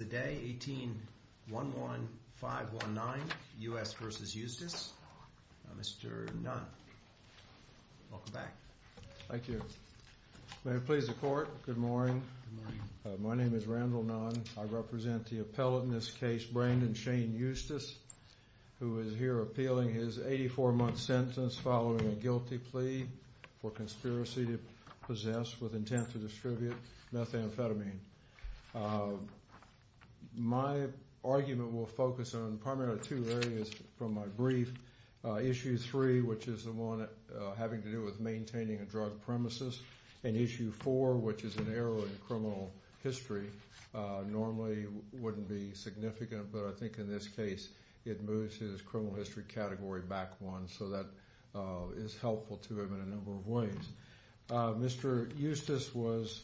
Today, 18-11519, U.S. v. Eustice, Mr. Nunn. Welcome back. Thank you. May it please the court, good morning. My name is Randall Nunn. I represent the appellate in this case, Brandon Shane Eustice, who is here appealing his 84-month sentence following a guilty plea for conspiracy to possess, with intent to distribute, methamphetamine. My argument will focus on primarily two areas from my brief. Issue three, which is the one having to do with maintaining a drug premises, and issue four, which is an error in criminal history, normally wouldn't be significant, but I think in this case it moves his criminal history category back one, so that is helpful to him in a number of ways. Mr. Eustice was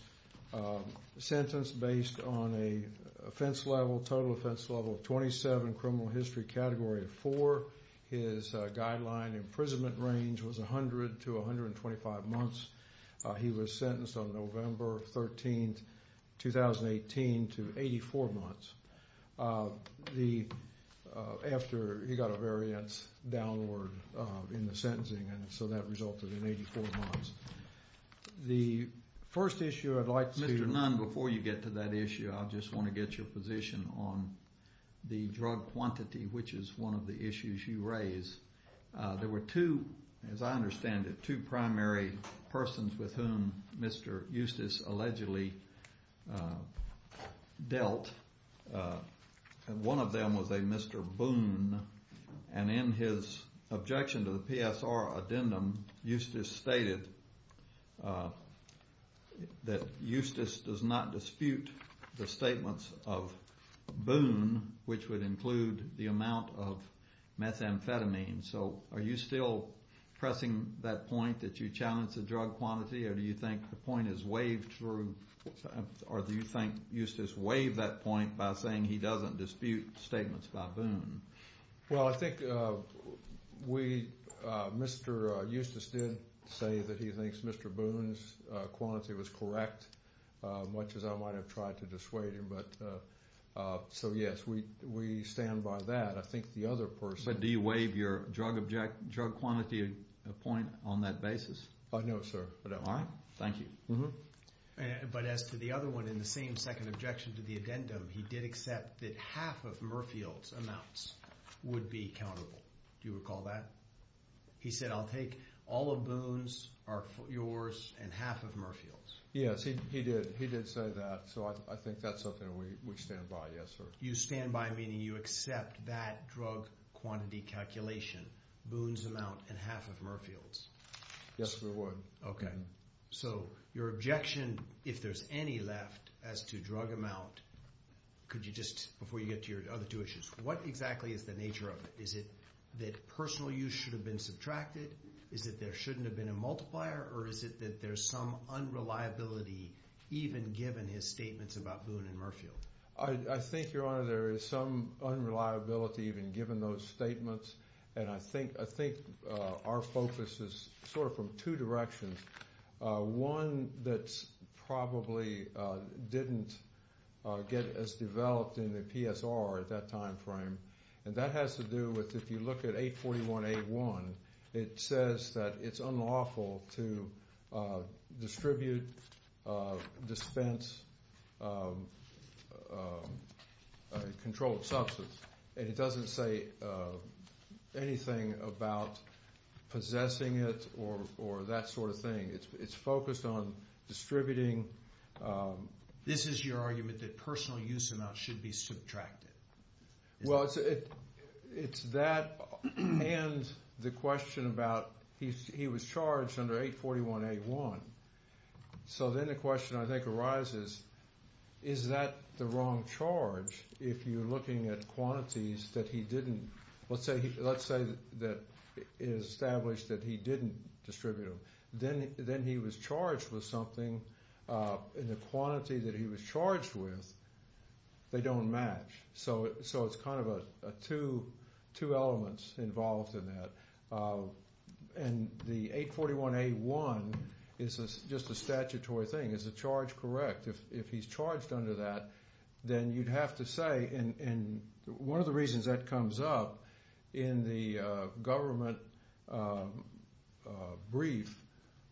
sentenced based on a offense level, total offense level of 27, criminal history category of 4. His guideline imprisonment range was 100 to 125 months. He was sentenced on November 13, 2018 to 84 months after he got a variance downward in the sentencing, and so that resulted in 84 months. The first issue I'd like to... Mr. Nunn, before you get to that issue, I just want to get your position on the drug quantity, which is one of the issues you raise. There were two, as I understand it, two primary persons with whom Mr. Eustice allegedly dealt. One of them was a Mr. Boone, and in his objection to the PSR addendum, Eustice stated that Eustice does not dispute the statements of Boone, which would include the amount of methamphetamine, so are you still pressing that point that you challenge the drug quantity, or do you think the point is waived through, or do you think Eustice waived that point by saying he doesn't dispute statements by Boone? Well, I think Mr. Eustice did say that he thinks Mr. Boone's quantity was correct, much as I might have tried to dissuade him, so yes, we stand by that. I think the other person... But do you waive your drug quantity point on that basis? No, sir. All right, thank you. But as to the other one, in the same second objection to the addendum, he did accept that half of Murfield's amounts would be countable. Do you recall that? He said, I'll take all of Boone's, yours, and half of Murfield's. Yes, he did say that, so I think that's something we stand by, yes, sir. You stand by meaning you accept that drug quantity calculation, Boone's amount, and half of Murfield's? Yes, we would. Okay. So your objection, if there's any left, as to drug amount, could you just, before you get to your other two issues, what exactly is the nature of it? Is it that personal use should have been subtracted? Is it there shouldn't have been a multiplier, or is it that there's some unreliability even given his statements about Murfield? I think, Your Honor, there is some unreliability even given those statements, and I think our focus is sort of from two directions. One that's probably didn't get as developed in the PSR at that time frame, and that has to do with, if you look at 841A1, it says that it's unlawful to distribute, dispense, control of substance, and it doesn't say anything about possessing it or that sort of thing. It's focused on distributing. This is your argument that he was charged under 841A1. So then the question I think arises, is that the wrong charge if you're looking at quantities that he didn't, let's say that it is established that he didn't distribute them. Then he was charged with something, and the quantity that he was charged with, they don't match. So it's kind of two elements involved in that. And the 841A1 is just a statutory thing. Is the charge correct? If he's charged under that, then you'd have to say, and one of the reasons that comes up in the government brief,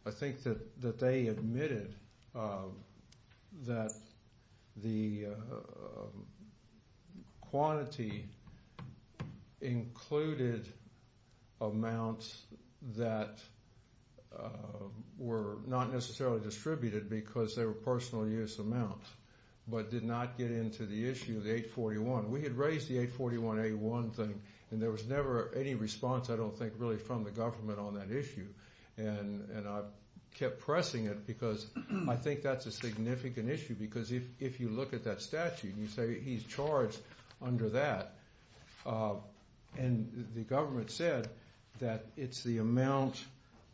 I think that they admitted that the quantity included amounts that were not necessarily distributed because they were personal use amounts, but did not get into the issue of the 841. We had raised the 841A1 thing, and there was never any response, I don't think, really from the government on that issue. And I kept pressing it because I think that's a significant issue because if you look at that statute, you say he's charged under that. And the government said that it's the amount,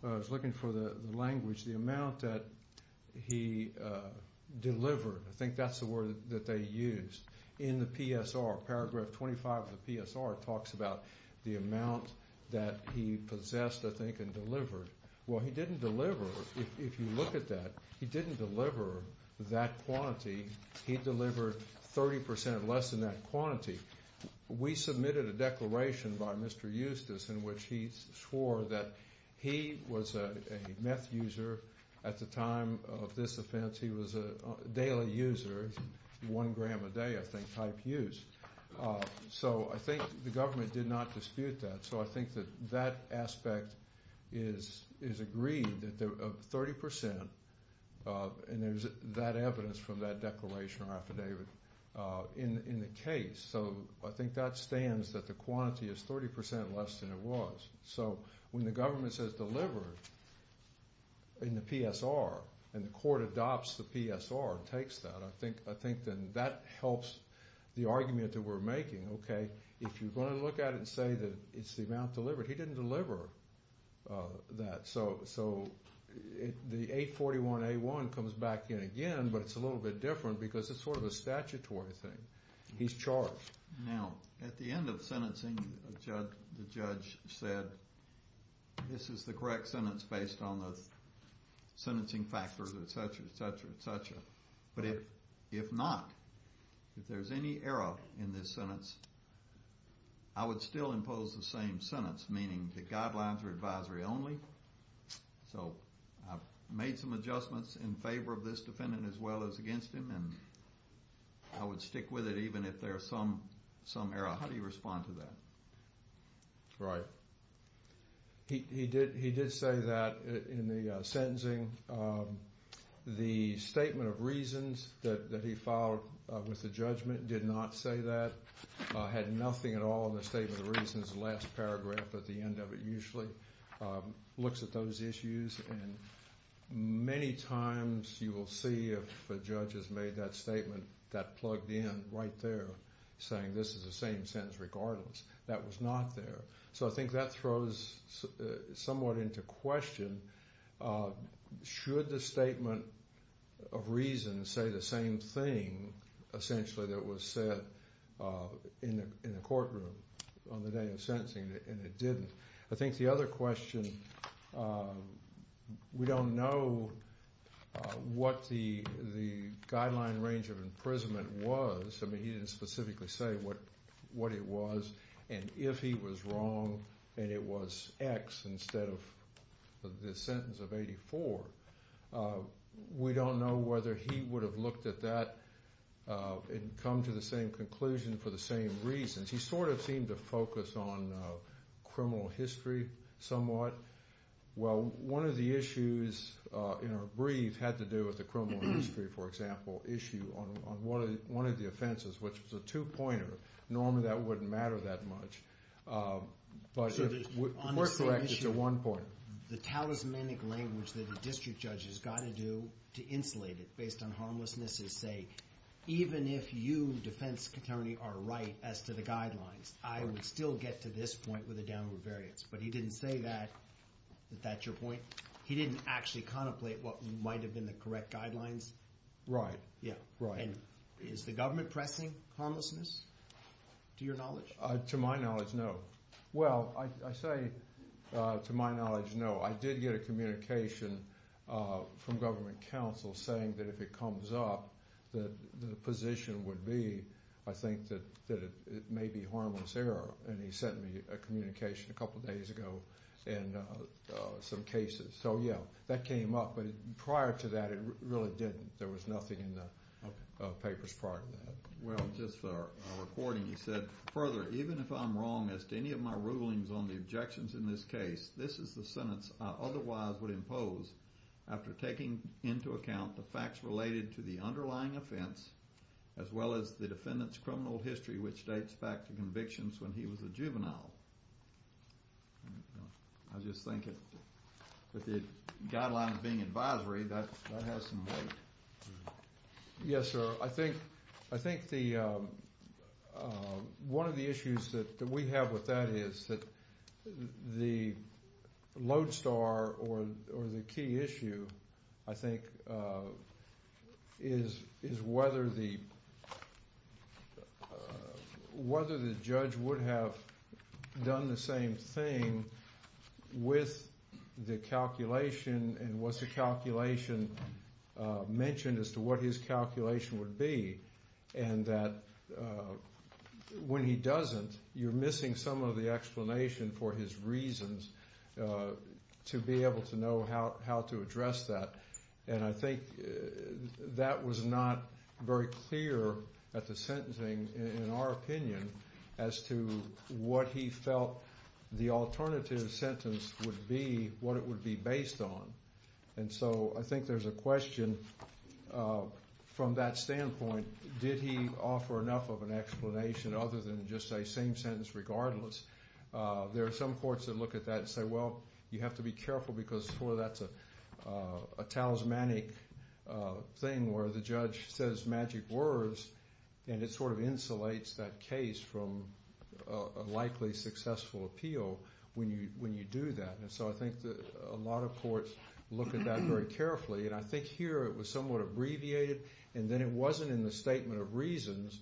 I was looking for the language, the amount that he delivered. I think that's the word that they used. In the PSR, paragraph 25 of the PSR talks about the amount that he possessed, I think, and delivered. Well, he didn't deliver, if you look at that, he didn't deliver that quantity. He delivered 30% less than that quantity. We submitted a declaration by Mr. Eustace in which he swore that he was a meth user at the time of this offense. He was a daily user, one gram a day, I think, type use. So I think the government did not dispute that. So I think that that aspect is agreed that 30%, and there's that evidence from that declaration or affidavit in the case. So I think that stands that the quantity is 30% less than it was. So when the government says delivered in the PSR, and the court adopts the PSR and takes that, I think then that helps the argument that we're making. Okay, if you're going to look at it and say that it's the amount delivered, he didn't deliver that. So the 841A1 comes back in again, but it's a little bit different because it's sort of a statutory thing. He's charged. Now, at the end of sentencing, the judge said, this is the correct sentence based on the sentencing factors, etc., etc., etc. But if not, if there's any error in this sentence, I would still impose the same sentence, meaning the guidelines are advisory only. So I've made some adjustments in favor of this defendant as well as against him, and I would stick with it even if there's some error. How do you respond to that? Right. He did say that in the sentencing. The statement of reasons that he filed with the judgment did not say that, had nothing at all in the statement of reasons. The last paragraph at the end of it usually looks at those issues. Many times you will see if a judge has made that statement, that plugged in right there, saying this is the same sentence regardless. That was not there. So I think that throws somewhat into question, should the statement of reasons say the same thing, essentially, that was said in the courtroom on the day of sentencing, and it didn't. I think the other question, we don't know what the guideline range of imprisonment was. I mean, he didn't specifically say what it was, and if he was wrong and it was X instead of the sentence of 84. We don't know whether he would have looked at that and come to the same conclusion for the same reasons. He sort of seemed to focus on criminal history somewhat. Well, one of the issues in our brief had to do with the criminal history, for example, issue on one of the offenses, which was a two-pointer. Normally that wouldn't matter that much, but the court corrected to one point. The talismanic language that a district judge has got to do to insulate it based on harmlessness is say, even if you, defense attorney, are right as to the guidelines, I would still get to this point with a downward variance. But he didn't say that, that that's your point. He didn't actually contemplate what might have been the correct guidelines. Right, right. And is the government pressing harmlessness, to your knowledge? To my knowledge, no. Well, I say to my knowledge, no. I did get a communication from government counsel saying that if it comes up, that the position would be, I think, that it may be harmless error. And he sent me a communication a couple days ago and some cases. So yeah, that came up, but prior to that it really didn't. There was nothing in the papers prior to that. Well, just a recording, he said, further, even if I'm wrong as to any of my rulings on the objections in this case, this is the sentence I otherwise would impose after taking into account the facts related to the underlying offense, as well as the defendant's criminal history, which dates back to convictions when he was a juvenile. I just think that the guidelines being advisory, that has some weight. Yes, sir. Well, I think one of the issues that we have with that is that the lodestar or the key issue, I think, is whether the judge would have done the same thing with the calculation and was the calculation mentioned as to what his calculation would be, and that when he doesn't, you're missing some of the explanation for his reasons to be able to know how to address that. And I think that was not very clear at the sentencing, in our opinion, as to what he felt the alternative sentence would be, what it would be based on. And so I think there's a question from that standpoint, did he offer enough of an explanation other than just say same sentence regardless? There are some courts that look at that and say, well, you have to be careful, because that's a talismanic thing where the judge says magic words, and it sort of insulates that case from a likely successful appeal when you do that. And so I think a lot of courts look at that very carefully, and I think here it was somewhat abbreviated, and then it wasn't in the statement of reasons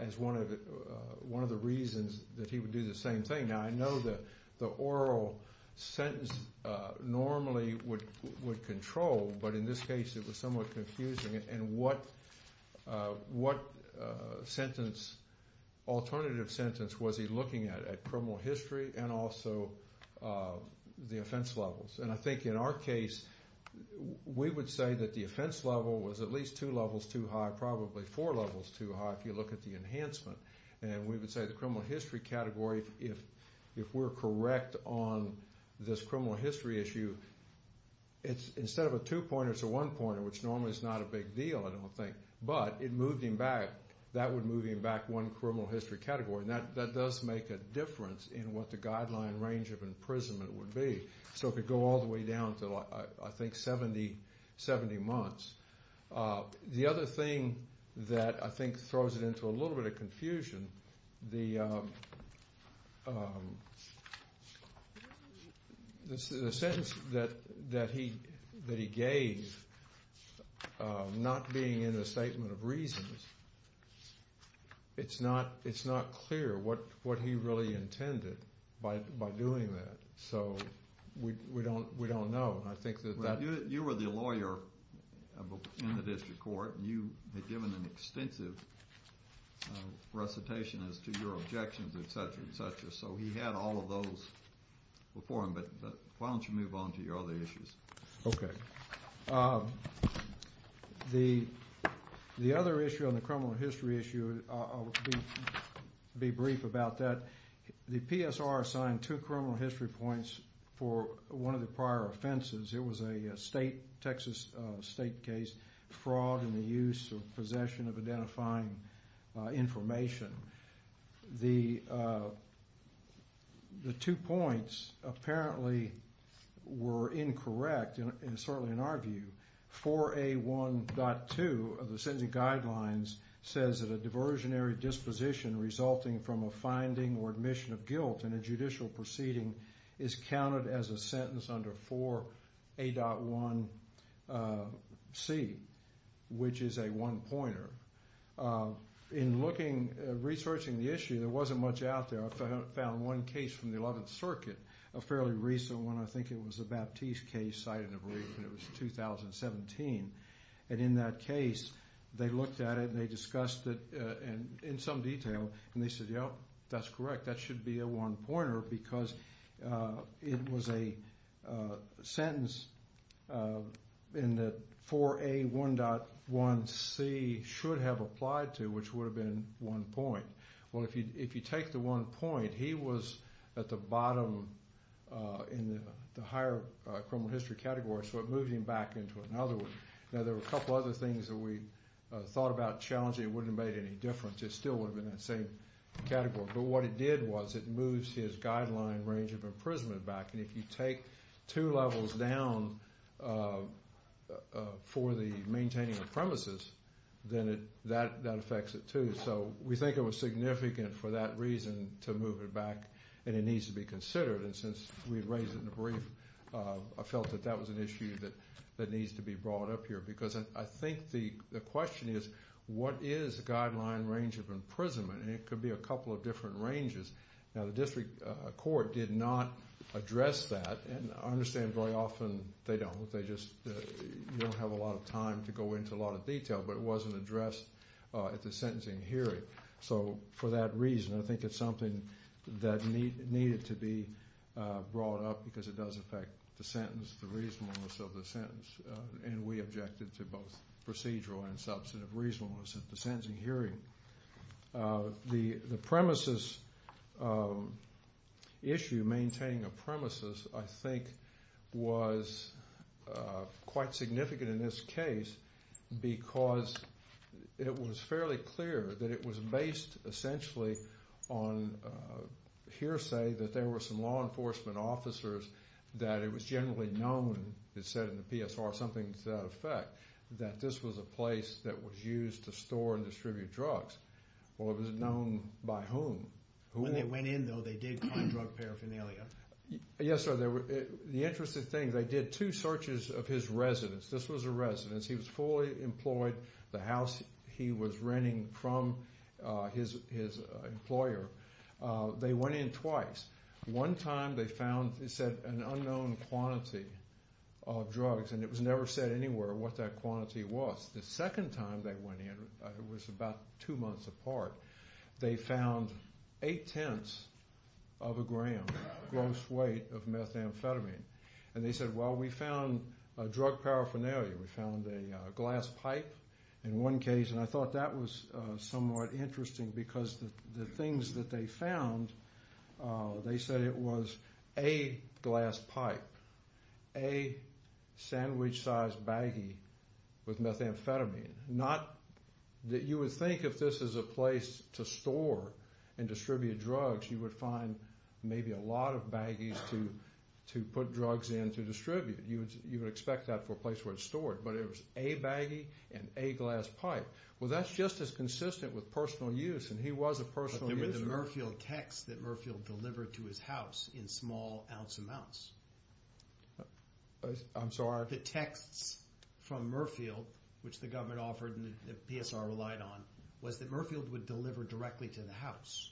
as one of the reasons that he would do the same thing. Now, I know that the oral sentence normally would control, but in this case it was somewhat confusing. And what sentence, alternative sentence, was he looking at? At criminal history and also the offense levels. And I think in our case we would say that the offense level was at least two levels too high, probably four levels too high if you look at the enhancement. And we would say the criminal history category, if we're correct on this criminal history issue, instead of a two-pointer, it's a one-pointer, which normally is not a big deal, I don't think. But it moved him back. That would move him back one criminal history category, and that does make a difference in what the guideline range of imprisonment would be. So it could go all the way down to, I think, 70 months. The other thing that I think throws it into a little bit of confusion, the sentence that he gave not being in the statement of reasons, it's not clear what he really intended by doing that. So we don't know. You were the lawyer in the district court, and you had given an extensive recitation as to your objections, et cetera, et cetera. So he had all of those before him. But why don't you move on to your other issues? Okay. The other issue on the criminal history issue, I'll be brief about that. The PSR assigned two criminal history points for one of the prior offenses. It was a state, Texas state case, fraud in the use or possession of identifying information. The two points apparently were incorrect, certainly in our view. 4A1.2 of the sentencing guidelines says that a diversionary disposition resulting from a finding or admission of guilt in a judicial proceeding is counted as a sentence under 4A.1c, which is a one-pointer. In researching the issue, there wasn't much out there. I found one case from the 11th Circuit, a fairly recent one. I think it was a Baptiste case cited in a brief, and it was 2017. In that case, they looked at it and they discussed it in some detail, and they said, yep, that's correct, that should be a one-pointer because it was a sentence in that 4A1.1c should have applied to, which would have been one point. Well, if you take the one point, he was at the bottom in the higher criminal history category, so it moved him back into another one. Now, there were a couple other things that we thought about challenging that wouldn't have made any difference. It still would have been that same category. But what it did was it moves his guideline range of imprisonment back, and if you take two levels down for the maintaining of premises, then that affects it too. So we think it was significant for that reason to move it back, and it needs to be considered. And since we raised it in the brief, I felt that that was an issue that needs to be brought up here because I think the question is what is the guideline range of imprisonment, and it could be a couple of different ranges. Now, the district court did not address that, and I understand very often they don't. They just don't have a lot of time to go into a lot of detail, but it wasn't addressed at the sentencing hearing. So for that reason, I think it's something that needed to be brought up because it does affect the sentence, the reasonableness of the sentence, and we objected to both procedural and substantive reasonableness at the sentencing hearing. The premises issue, maintaining of premises, I think was quite significant in this case because it was fairly clear that it was based essentially on hearsay that there were some law enforcement officers that it was generally known, it said in the PSR, something to that effect, that this was a place that was used to store and distribute drugs. Well, it wasn't known by whom. When they went in, though, they did find drug paraphernalia. Yes, sir. The interesting thing, they did two searches of his residence. This was a residence. He was fully employed. The house he was renting from his employer. They went in twice. One time they found, they said, an unknown quantity of drugs, and it was never said anywhere what that quantity was. The second time they went in, it was about two months apart, they found eight-tenths of a gram gross weight of methamphetamine, and they said, well, we found drug paraphernalia. We found a glass pipe in one case, and I thought that was somewhat interesting because the things that they found, they said it was a glass pipe, a sandwich-sized baggie with methamphetamine. Not that you would think if this is a place to store and distribute drugs, you would find maybe a lot of baggies to put drugs in to distribute. You would expect that for a place where it's stored, but it was a baggie and a glass pipe. Well, that's just as consistent with personal use, and he was a personal user. But there were the Murfield texts that Murfield delivered to his house in small ounce amounts. I'm sorry? The texts from Murfield, which the government offered and the PSR relied on, was that Murfield would deliver directly to the house.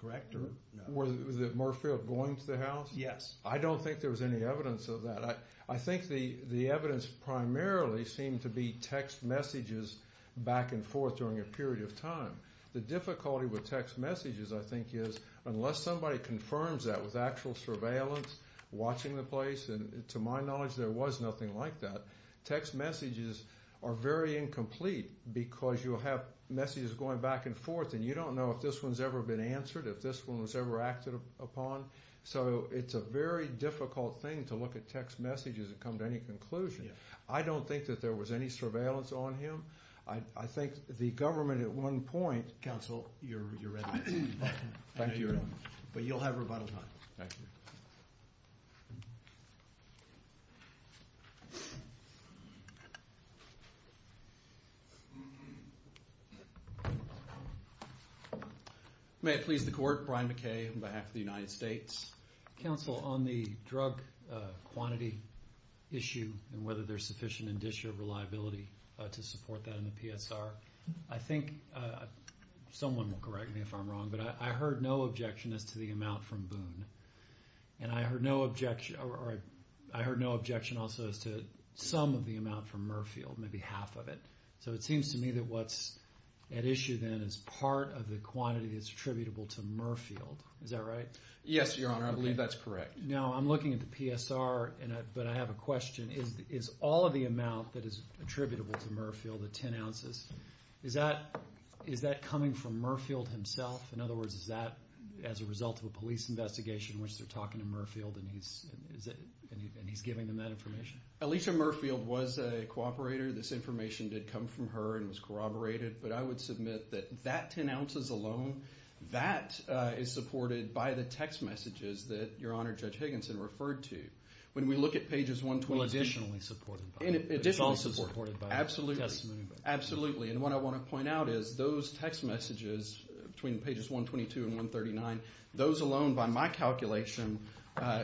Correct, or no? Was it Murfield going to the house? Yes. I don't think there was any evidence of that. I think the evidence primarily seemed to be text messages back and forth during a period of time. The difficulty with text messages, I think, is unless somebody confirms that with actual surveillance, watching the place, and to my knowledge there was nothing like that, text messages are very incomplete because you'll have messages going back and forth and you don't know if this one's ever been answered, if this one was ever acted upon. So it's a very difficult thing to look at text messages and come to any conclusion. I don't think that there was any surveillance on him. I think the government at one point— Counsel, you're ready. Thank you. But you'll have rebuttal time. Thank you. Thank you. May it please the court. Brian McKay on behalf of the United States. Counsel, on the drug quantity issue and whether there's sufficient in-district reliability to support that in the PSR, I think someone will correct me if I'm wrong, but I heard no objection as to the amount from Boone. And I heard no objection also as to some of the amount from Murfield, maybe half of it. So it seems to me that what's at issue then is part of the quantity that's attributable to Murfield. Is that right? Yes, Your Honor. I believe that's correct. Now I'm looking at the PSR, but I have a question. Is all of the amount that is attributable to Murfield, the 10 ounces, is that coming from Murfield himself? In other words, is that as a result of a police investigation in which they're talking to Murfield and he's giving them that information? Alicia Murfield was a cooperator. This information did come from her and was corroborated. But I would submit that that 10 ounces alone, that is supported by the text messages that Your Honor Judge Higginson referred to. When we look at pages 120. Well, additionally supported. It's also supported by testimony. Absolutely. And what I want to point out is those text messages between pages 122 and 139, those alone by my calculation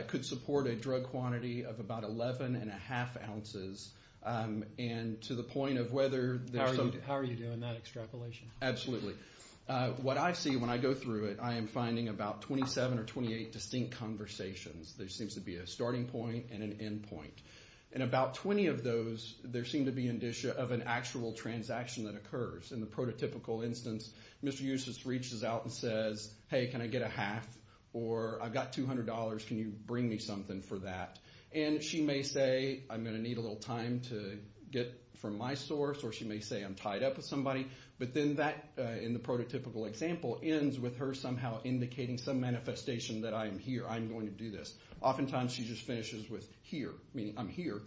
could support a drug quantity of about 11 1⁄2 ounces. And to the point of whether there's some. How are you doing that extrapolation? Absolutely. What I see when I go through it, I am finding about 27 or 28 distinct conversations. There seems to be a starting point and an end point. In about 20 of those, there seems to be an issue of an actual transaction that occurs. In the prototypical instance, Mr. Eustace reaches out and says, hey, can I get a half or I've got $200. Can you bring me something for that? And she may say I'm going to need a little time to get from my source or she may say I'm tied up with somebody. But then that, in the prototypical example, ends with her somehow indicating some manifestation that I'm here, I'm going to do this. Oftentimes she just finishes with here, meaning I'm here,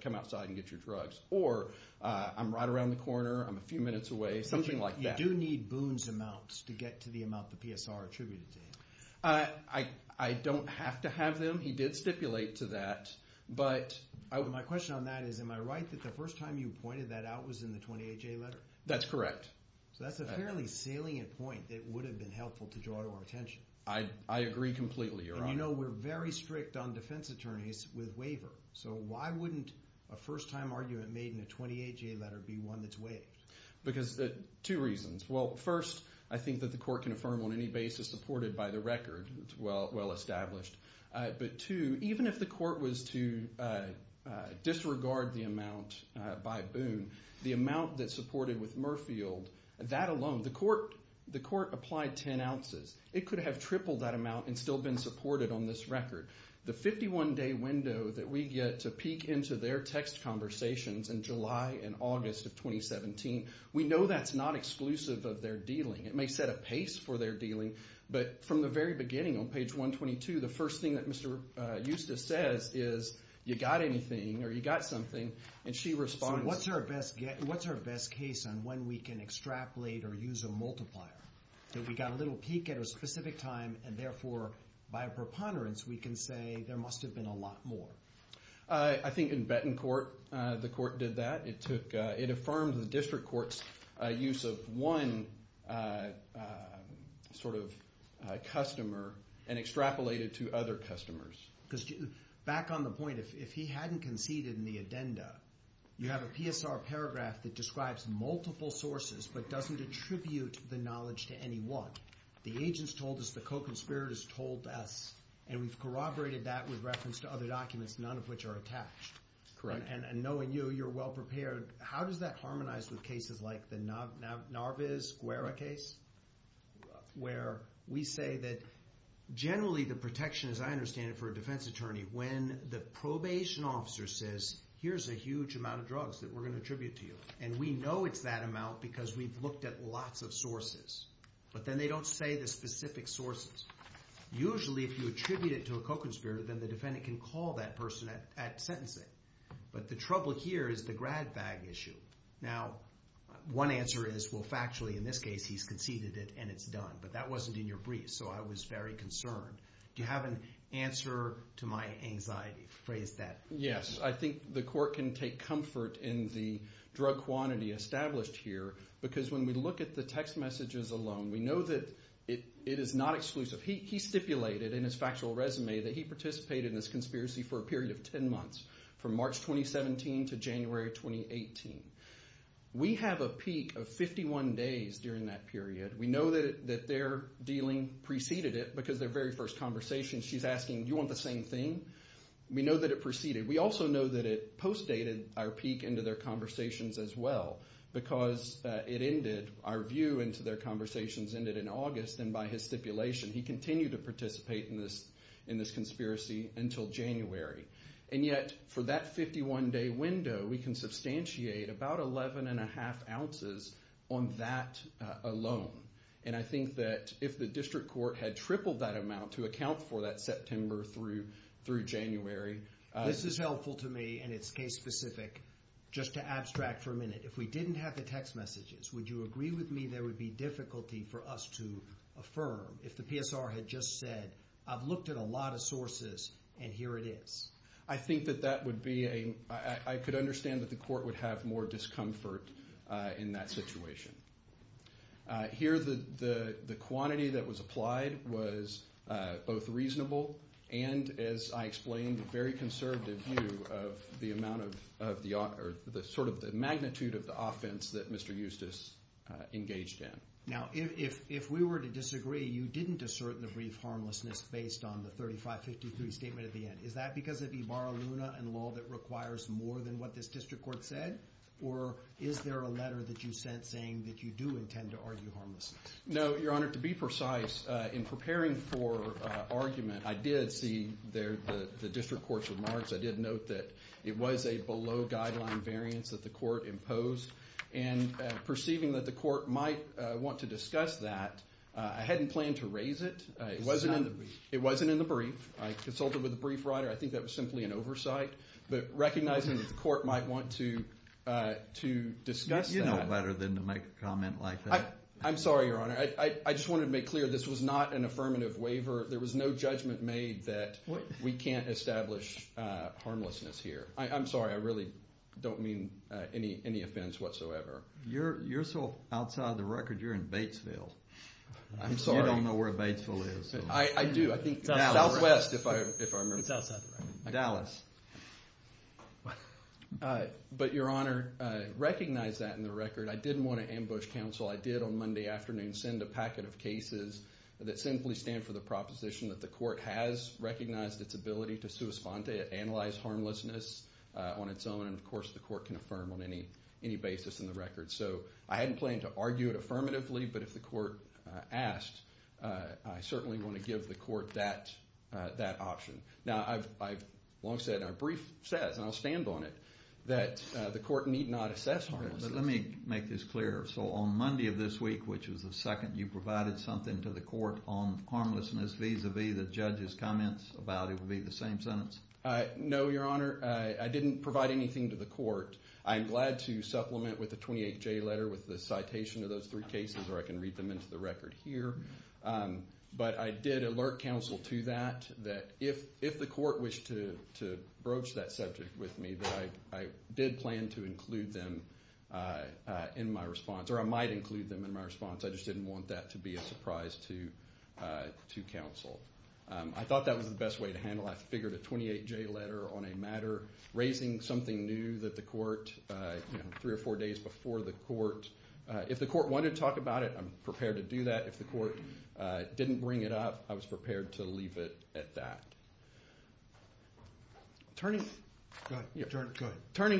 come outside and get your drugs. Or I'm right around the corner, I'm a few minutes away, something like that. You do need Boone's amounts to get to the amount the PSR attributed to you. I don't have to have them. He did stipulate to that. My question on that is, am I right that the first time you pointed that out was in the 28-J letter? That's correct. So that's a fairly salient point that would have been helpful to draw to our attention. I agree completely, Your Honor. And you know we're very strict on defense attorneys with waiver. So why wouldn't a first-time argument made in a 28-J letter be one that's waived? Because of two reasons. Well, first, I think that the court can affirm on any basis supported by the record. It's well established. But two, even if the court was to disregard the amount by Boone, the amount that's supported with Murfield, that alone, the court applied 10 ounces. It could have tripled that amount and still been supported on this record. The 51-day window that we get to peek into their text conversations in July and August of 2017, we know that's not exclusive of their dealing. It may set a pace for their dealing. But from the very beginning on page 122, the first thing that Mr. Eusta says is, you got anything or you got something, and she responds. So what's our best case on when we can extrapolate or use a multiplier? If we got a little peek at a specific time and, therefore, by a preponderance, we can say there must have been a lot more. I think in Bettencourt the court did that. It affirmed the district court's use of one sort of customer and extrapolated to other customers. Because back on the point, if he hadn't conceded in the addenda, you have a PSR paragraph that describes multiple sources but doesn't attribute the knowledge to any one. The agent's told us, the co-conspirator's told us, and we've corroborated that with reference to other documents, none of which are attached. Correct. And knowing you, you're well-prepared. How does that harmonize with cases like the Narviz-Guerra case, where we say that generally the protection, as I understand it, for a defense attorney, when the probation officer says, here's a huge amount of drugs that we're going to attribute to you, and we know it's that amount because we've looked at lots of sources, but then they don't say the specific sources. Usually, if you attribute it to a co-conspirator, then the defendant can call that person at sentencing. But the trouble here is the grad bag issue. Now, one answer is, well, factually, in this case, he's conceded it and it's done. But that wasn't in your brief, so I was very concerned. Do you have an answer to my anxiety? Yes. I think the court can take comfort in the drug quantity established here because when we look at the text messages alone, we know that it is not exclusive. He stipulated in his factual resume that he participated in this conspiracy for a period of 10 months, from March 2017 to January 2018. We have a peak of 51 days during that period. We know that their dealing preceded it because their very first conversation, she's asking, do you want the same thing? We know that it preceded. We also know that it postdated our peak into their conversations as well because it ended, our view into their conversations ended in August, and by his stipulation, he continued to participate in this conspiracy until January. And yet, for that 51-day window, we can substantiate about 11.5 ounces on that alone. And I think that if the district court had tripled that amount to account for that September through January. This is helpful to me, and it's case-specific. Just to abstract for a minute, if we didn't have the text messages, would you agree with me there would be difficulty for us to affirm if the PSR had just said, I've looked at a lot of sources, and here it is? I think that that would be a, I could understand that the court would have more discomfort in that situation. Here, the quantity that was applied was both reasonable and, as I explained, a very conservative view of the amount of the, or sort of the magnitude of the offense that Mr. Eustis engaged in. Now, if we were to disagree, you didn't assert the brief harmlessness based on the 3553 statement at the end. Is that because of Ibarra-Luna and law that requires more than what this district court said? Or is there a letter that you sent saying that you do intend to argue harmlessness? No, Your Honor, to be precise, in preparing for argument, I did see the district court's remarks. I did note that it was a below-guideline variance that the court imposed. And perceiving that the court might want to discuss that, I hadn't planned to raise it. It wasn't in the brief. I consulted with the brief writer. I think that was simply an oversight. But recognizing that the court might want to discuss that. You know better than to make a comment like that. I'm sorry, Your Honor. I just wanted to make clear this was not an affirmative waiver. There was no judgment made that we can't establish harmlessness here. I'm sorry. I really don't mean any offense whatsoever. You're still outside of the record. You're in Batesville. I'm sorry. You don't know where Batesville is. I do. I think Southwest, if I remember. It's outside the record. Dallas. But, Your Honor, recognize that in the record. I didn't want to ambush counsel. I did on Monday afternoon send a packet of cases that simply stand for the proposition that the court has recognized its ability to sua sponte, analyze harmlessness on its own. And, of course, the court can affirm on any basis in the record. So I hadn't planned to argue it affirmatively. But if the court asked, I certainly want to give the court that option. Now, I've long said, and our brief says, and I'll stand on it, that the court need not assess harmlessness. But let me make this clear. So on Monday of this week, which was the second, you provided something to the court on harmlessness vis-a-vis the judge's comments about it would be the same sentence? No, Your Honor. I didn't provide anything to the court. I'm glad to supplement with a 28-J letter with the citation of those three cases, or I can read them into the record here. But I did alert counsel to that, that if the court wished to broach that subject with me, that I did plan to include them in my response, or I might include them in my response. I just didn't want that to be a surprise to counsel. I thought that was the best way to handle it. I figured a 28-J letter on a matter raising something new that the court, three or four days before the court, if the court wanted to talk about it, I'm prepared to do that. If the court didn't bring it up, I was prepared to leave it at that. Turning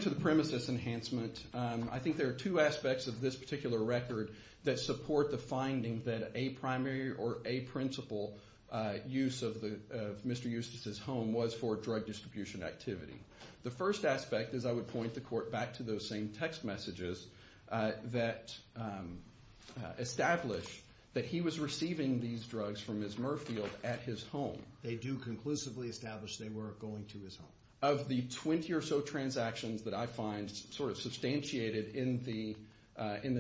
to the premises enhancement, I think there are two aspects of this particular record that support the finding that a primary or a principal use of Mr. Eustace's home was for drug distribution activity. The first aspect is I would point the court back to those same text messages that establish that he was receiving these drugs from Ms. Murfield at his home. They do conclusively establish they were going to his home. Of the 20 or so transactions that I find substantiated in the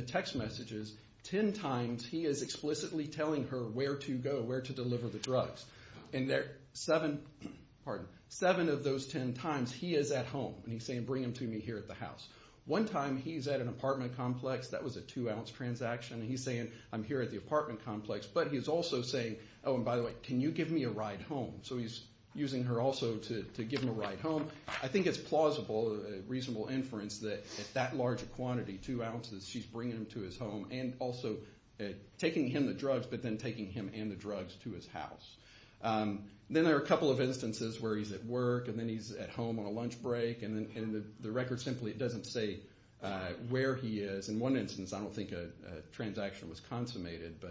text messages, 10 times he is explicitly telling her where to go, where to deliver the drugs. Seven of those 10 times he is at home, and he's saying, bring them to me here at the house. One time he's at an apartment complex. That was a two-ounce transaction. He's saying, I'm here at the apartment complex. But he's also saying, oh, and by the way, can you give me a ride home? So he's using her also to give him a ride home. I think it's plausible, reasonable inference that at that large a quantity, two ounces, she's bringing him to his home and also taking him the drugs but then taking him and the drugs to his house. Then there are a couple of instances where he's at work and then he's at home on a lunch break, and the record simply doesn't say where he is. In one instance, I don't think a transaction was consummated.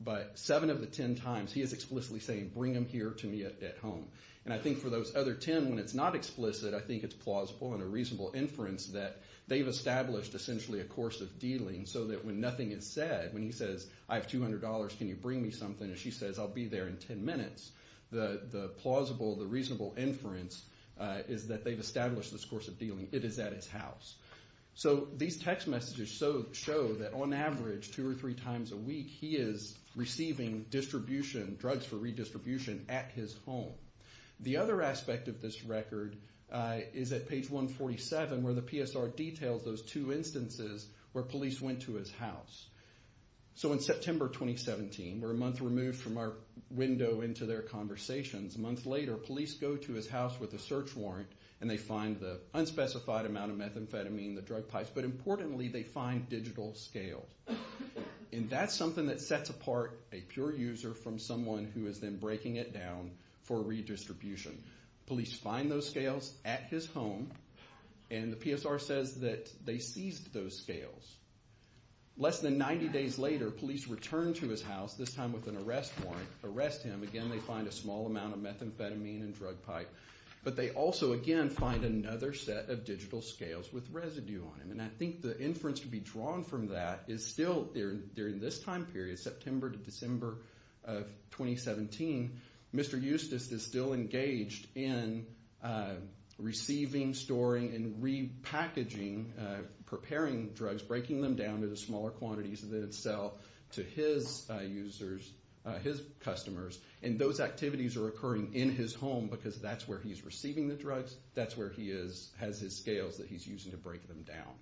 But seven of the 10 times he is explicitly saying, bring them here to me at home. I think for those other 10, when it's not explicit, I think it's plausible and a reasonable inference that they've established essentially a course of dealing so that when nothing is said, when he says, I have $200. Can you bring me something? And she says, I'll be there in 10 minutes. The plausible, the reasonable inference is that they've established this course of dealing. It is at his house. These text messages show that on average two or three times a week, he is receiving distribution, drugs for redistribution at his home. The other aspect of this record is at page 147 where the PSR details those two instances where police went to his house. In September 2017, we're a month removed from our window into their conversations, a month later police go to his house with a search warrant and they find the unspecified amount of methamphetamine, the drug pipes. But importantly, they find digital scales. And that's something that sets apart a pure user from someone who is then breaking it down for redistribution. Police find those scales at his home and the PSR says that they seized those scales. Less than 90 days later, police return to his house, this time with an arrest warrant, arrest him. Again, they find a small amount of methamphetamine and drug pipe. But they also, again, find another set of digital scales with residue on them. And I think the inference to be drawn from that is still during this time period, September to December of 2017, Mr. Eustace is still engaged in receiving, storing, and repackaging, preparing drugs, breaking them down into smaller quantities that sell to his users, his customers. And those activities are occurring in his home because that's where he's receiving the drugs, that's where he has his scales that he's using to break them down.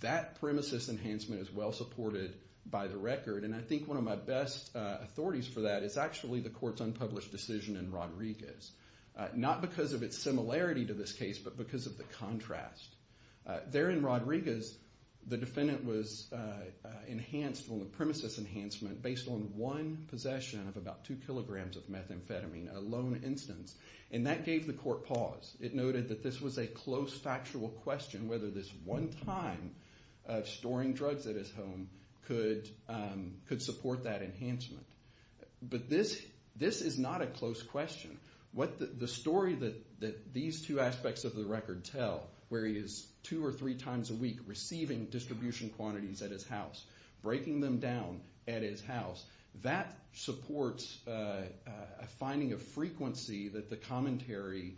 That premises enhancement is well supported by the record. And I think one of my best authorities for that is actually the court's unpublished decision in Rodriguez. Not because of its similarity to this case, but because of the contrast. There in Rodriguez, the defendant was enhanced on the premises enhancement based on one possession of about two kilograms of methamphetamine, a lone instance. And that gave the court pause. It noted that this was a close factual question, whether this one time of storing drugs at his home could support that enhancement. But this is not a close question. The story that these two aspects of the record tell, where he is two or three times a week receiving distribution quantities at his house, breaking them down at his house, that supports a finding of frequency that the commentary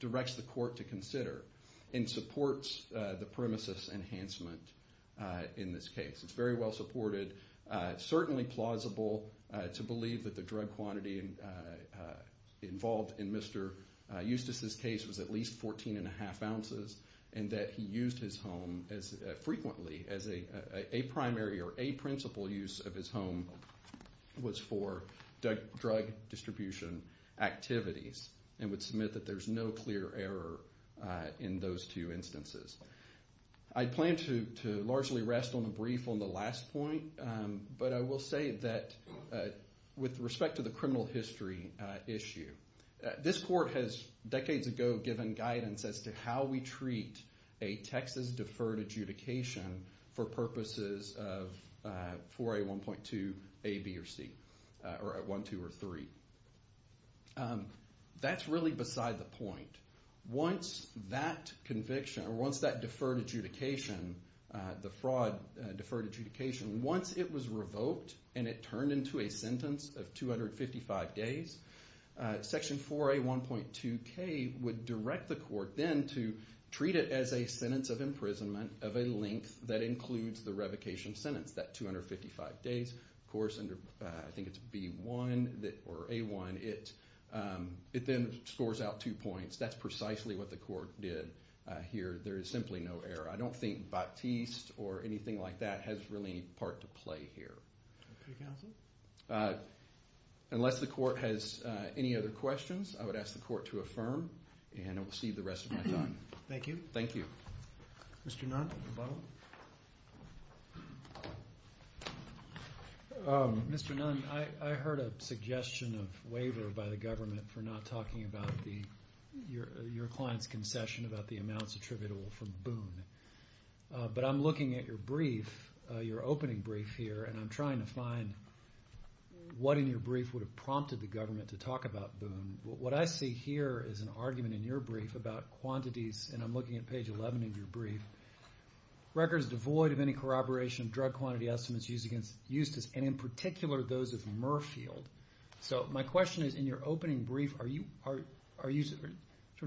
directs the court to consider and supports the premises enhancement in this case. It's very well supported. It's certainly plausible to believe that the drug quantity involved in Mr. Eustace's case was at least 14 and a half ounces and that he used his home frequently as a primary or a principal use of his home was for drug distribution activities and would submit that there's no clear error in those two instances. I plan to largely rest on the brief on the last point, but I will say that with respect to the criminal history issue, this court has decades ago given guidance as to how we treat a Texas deferred adjudication for purposes of 4A1.2A, B, or C, or 1, 2, or 3. That's really beside the point. Once that conviction or once that deferred adjudication, the fraud deferred adjudication, once it was revoked and it turned into a sentence of 255 days, Section 4A1.2K would direct the court then to treat it as a sentence of imprisonment of a length that includes the revocation sentence, that 255 days. Of course, I think it's B1 or A1. It then scores out two points. That's precisely what the court did here. There is simply no error. I don't think Baptiste or anything like that has really any part to play here. Unless the court has any other questions, I would ask the court to affirm, and I will cede the rest of my time. Thank you. Thank you. Mr. Nunn, a follow-up? Mr. Nunn, I heard a suggestion of waiver by the government for not talking about your client's concession about the amounts attributable from Boone, but I'm looking at your brief, your opening brief here, and I'm trying to find what in your brief would have prompted the government to talk about Boone. What I see here is an argument in your brief about quantities, and I'm looking at page 11 of your brief, records devoid of any corroboration of drug quantity estimates used against Eustis, and in particular those of Merfield. So my question is, in your opening brief, are you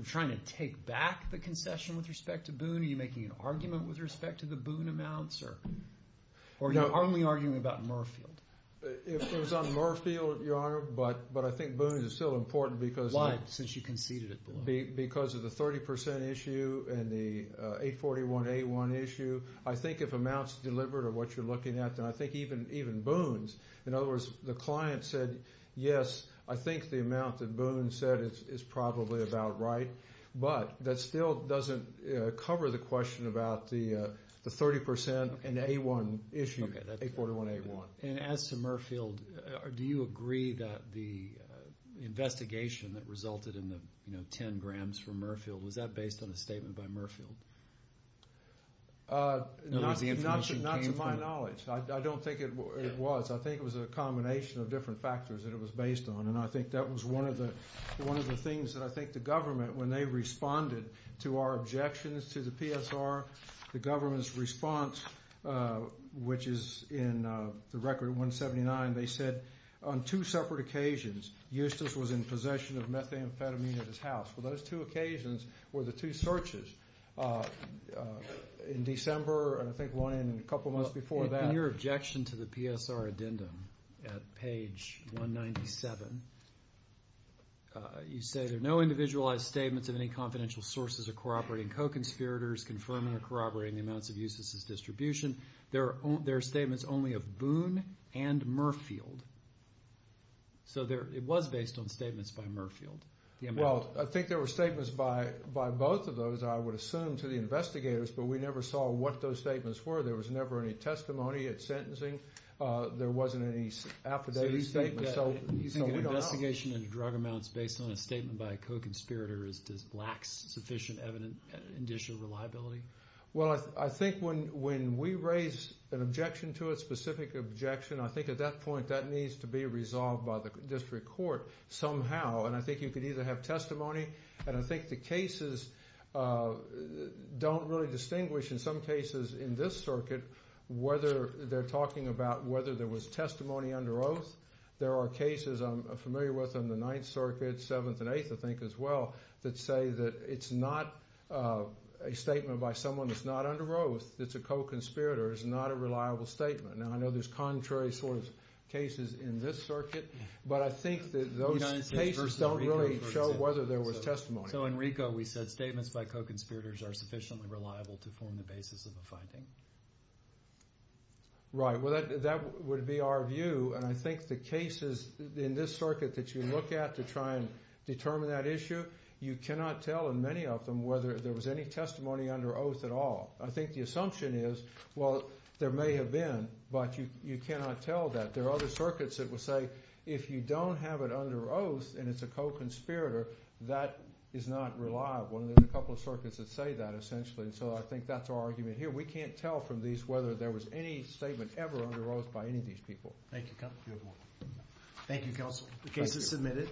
trying to take back the concession with respect to Boone? Are you making an argument with respect to the Boone amounts? Or are you only arguing about Merfield? It was on Merfield, Your Honor, but I think Boone is still important because of the 30% issue and the 841A1 issue. I think if amounts delivered are what you're looking at, then I think even Boone's. In other words, the client said, yes, I think the amount that Boone said is probably about right, but that still doesn't cover the question about the 30% and A1 issue, 841A1. And as to Merfield, do you agree that the investigation that resulted in the 10 grams from Merfield, was that based on a statement by Merfield? Not to my knowledge. I don't think it was. I think it was a combination of different factors that it was based on, and I think that was one of the things that I think the government, when they responded to our objections to the PSR, the government's response, which is in the Record 179, they said on two separate occasions, Eustace was in possession of methamphetamine at his house. Well, those two occasions were the two searches in December, and I think one in a couple months before that. In your objection to the PSR addendum at page 197, you say there are no individualized statements of any confidential sources or corroborating co-conspirators confirming or corroborating the amounts of Eustace's distribution. There are statements only of Boone and Merfield. So it was based on statements by Merfield. Well, I think there were statements by both of those, I would assume, to the investigators, but we never saw what those statements were. There was never any testimony at sentencing. There wasn't any affidavit statement, so we don't know. So you think an investigation into drug amounts based on a statement by a co-conspirator lacks sufficient evidence and additional reliability? Well, I think when we raise an objection to it, a specific objection, I think at that point that needs to be resolved by the district court somehow, and I think you could either have testimony, and I think the cases don't really distinguish, in some cases in this circuit, whether they're talking about whether there was testimony under oath. There are cases I'm familiar with in the Ninth Circuit, Seventh and Eighth, I think, as well, that say that it's not a statement by someone that's not under oath, that's a co-conspirator, it's not a reliable statement. Now, I know there's contrary sort of cases in this circuit, but I think that those cases don't really show whether there was testimony. So in RICO we said statements by co-conspirators are sufficiently reliable to form the basis of a finding. Right. Well, that would be our view, and I think the cases in this circuit that you look at to try and determine that issue, you cannot tell in many of them whether there was any testimony under oath at all. I think the assumption is, well, there may have been, but you cannot tell that. There are other circuits that will say if you don't have it under oath and it's a co-conspirator, that is not reliable. There are a couple of circuits that say that, essentially, and so I think that's our argument here. We can't tell from these whether there was any statement ever under oath by any of these people. Thank you, counsel. You're welcome. Thank you, counsel. The case is submitted.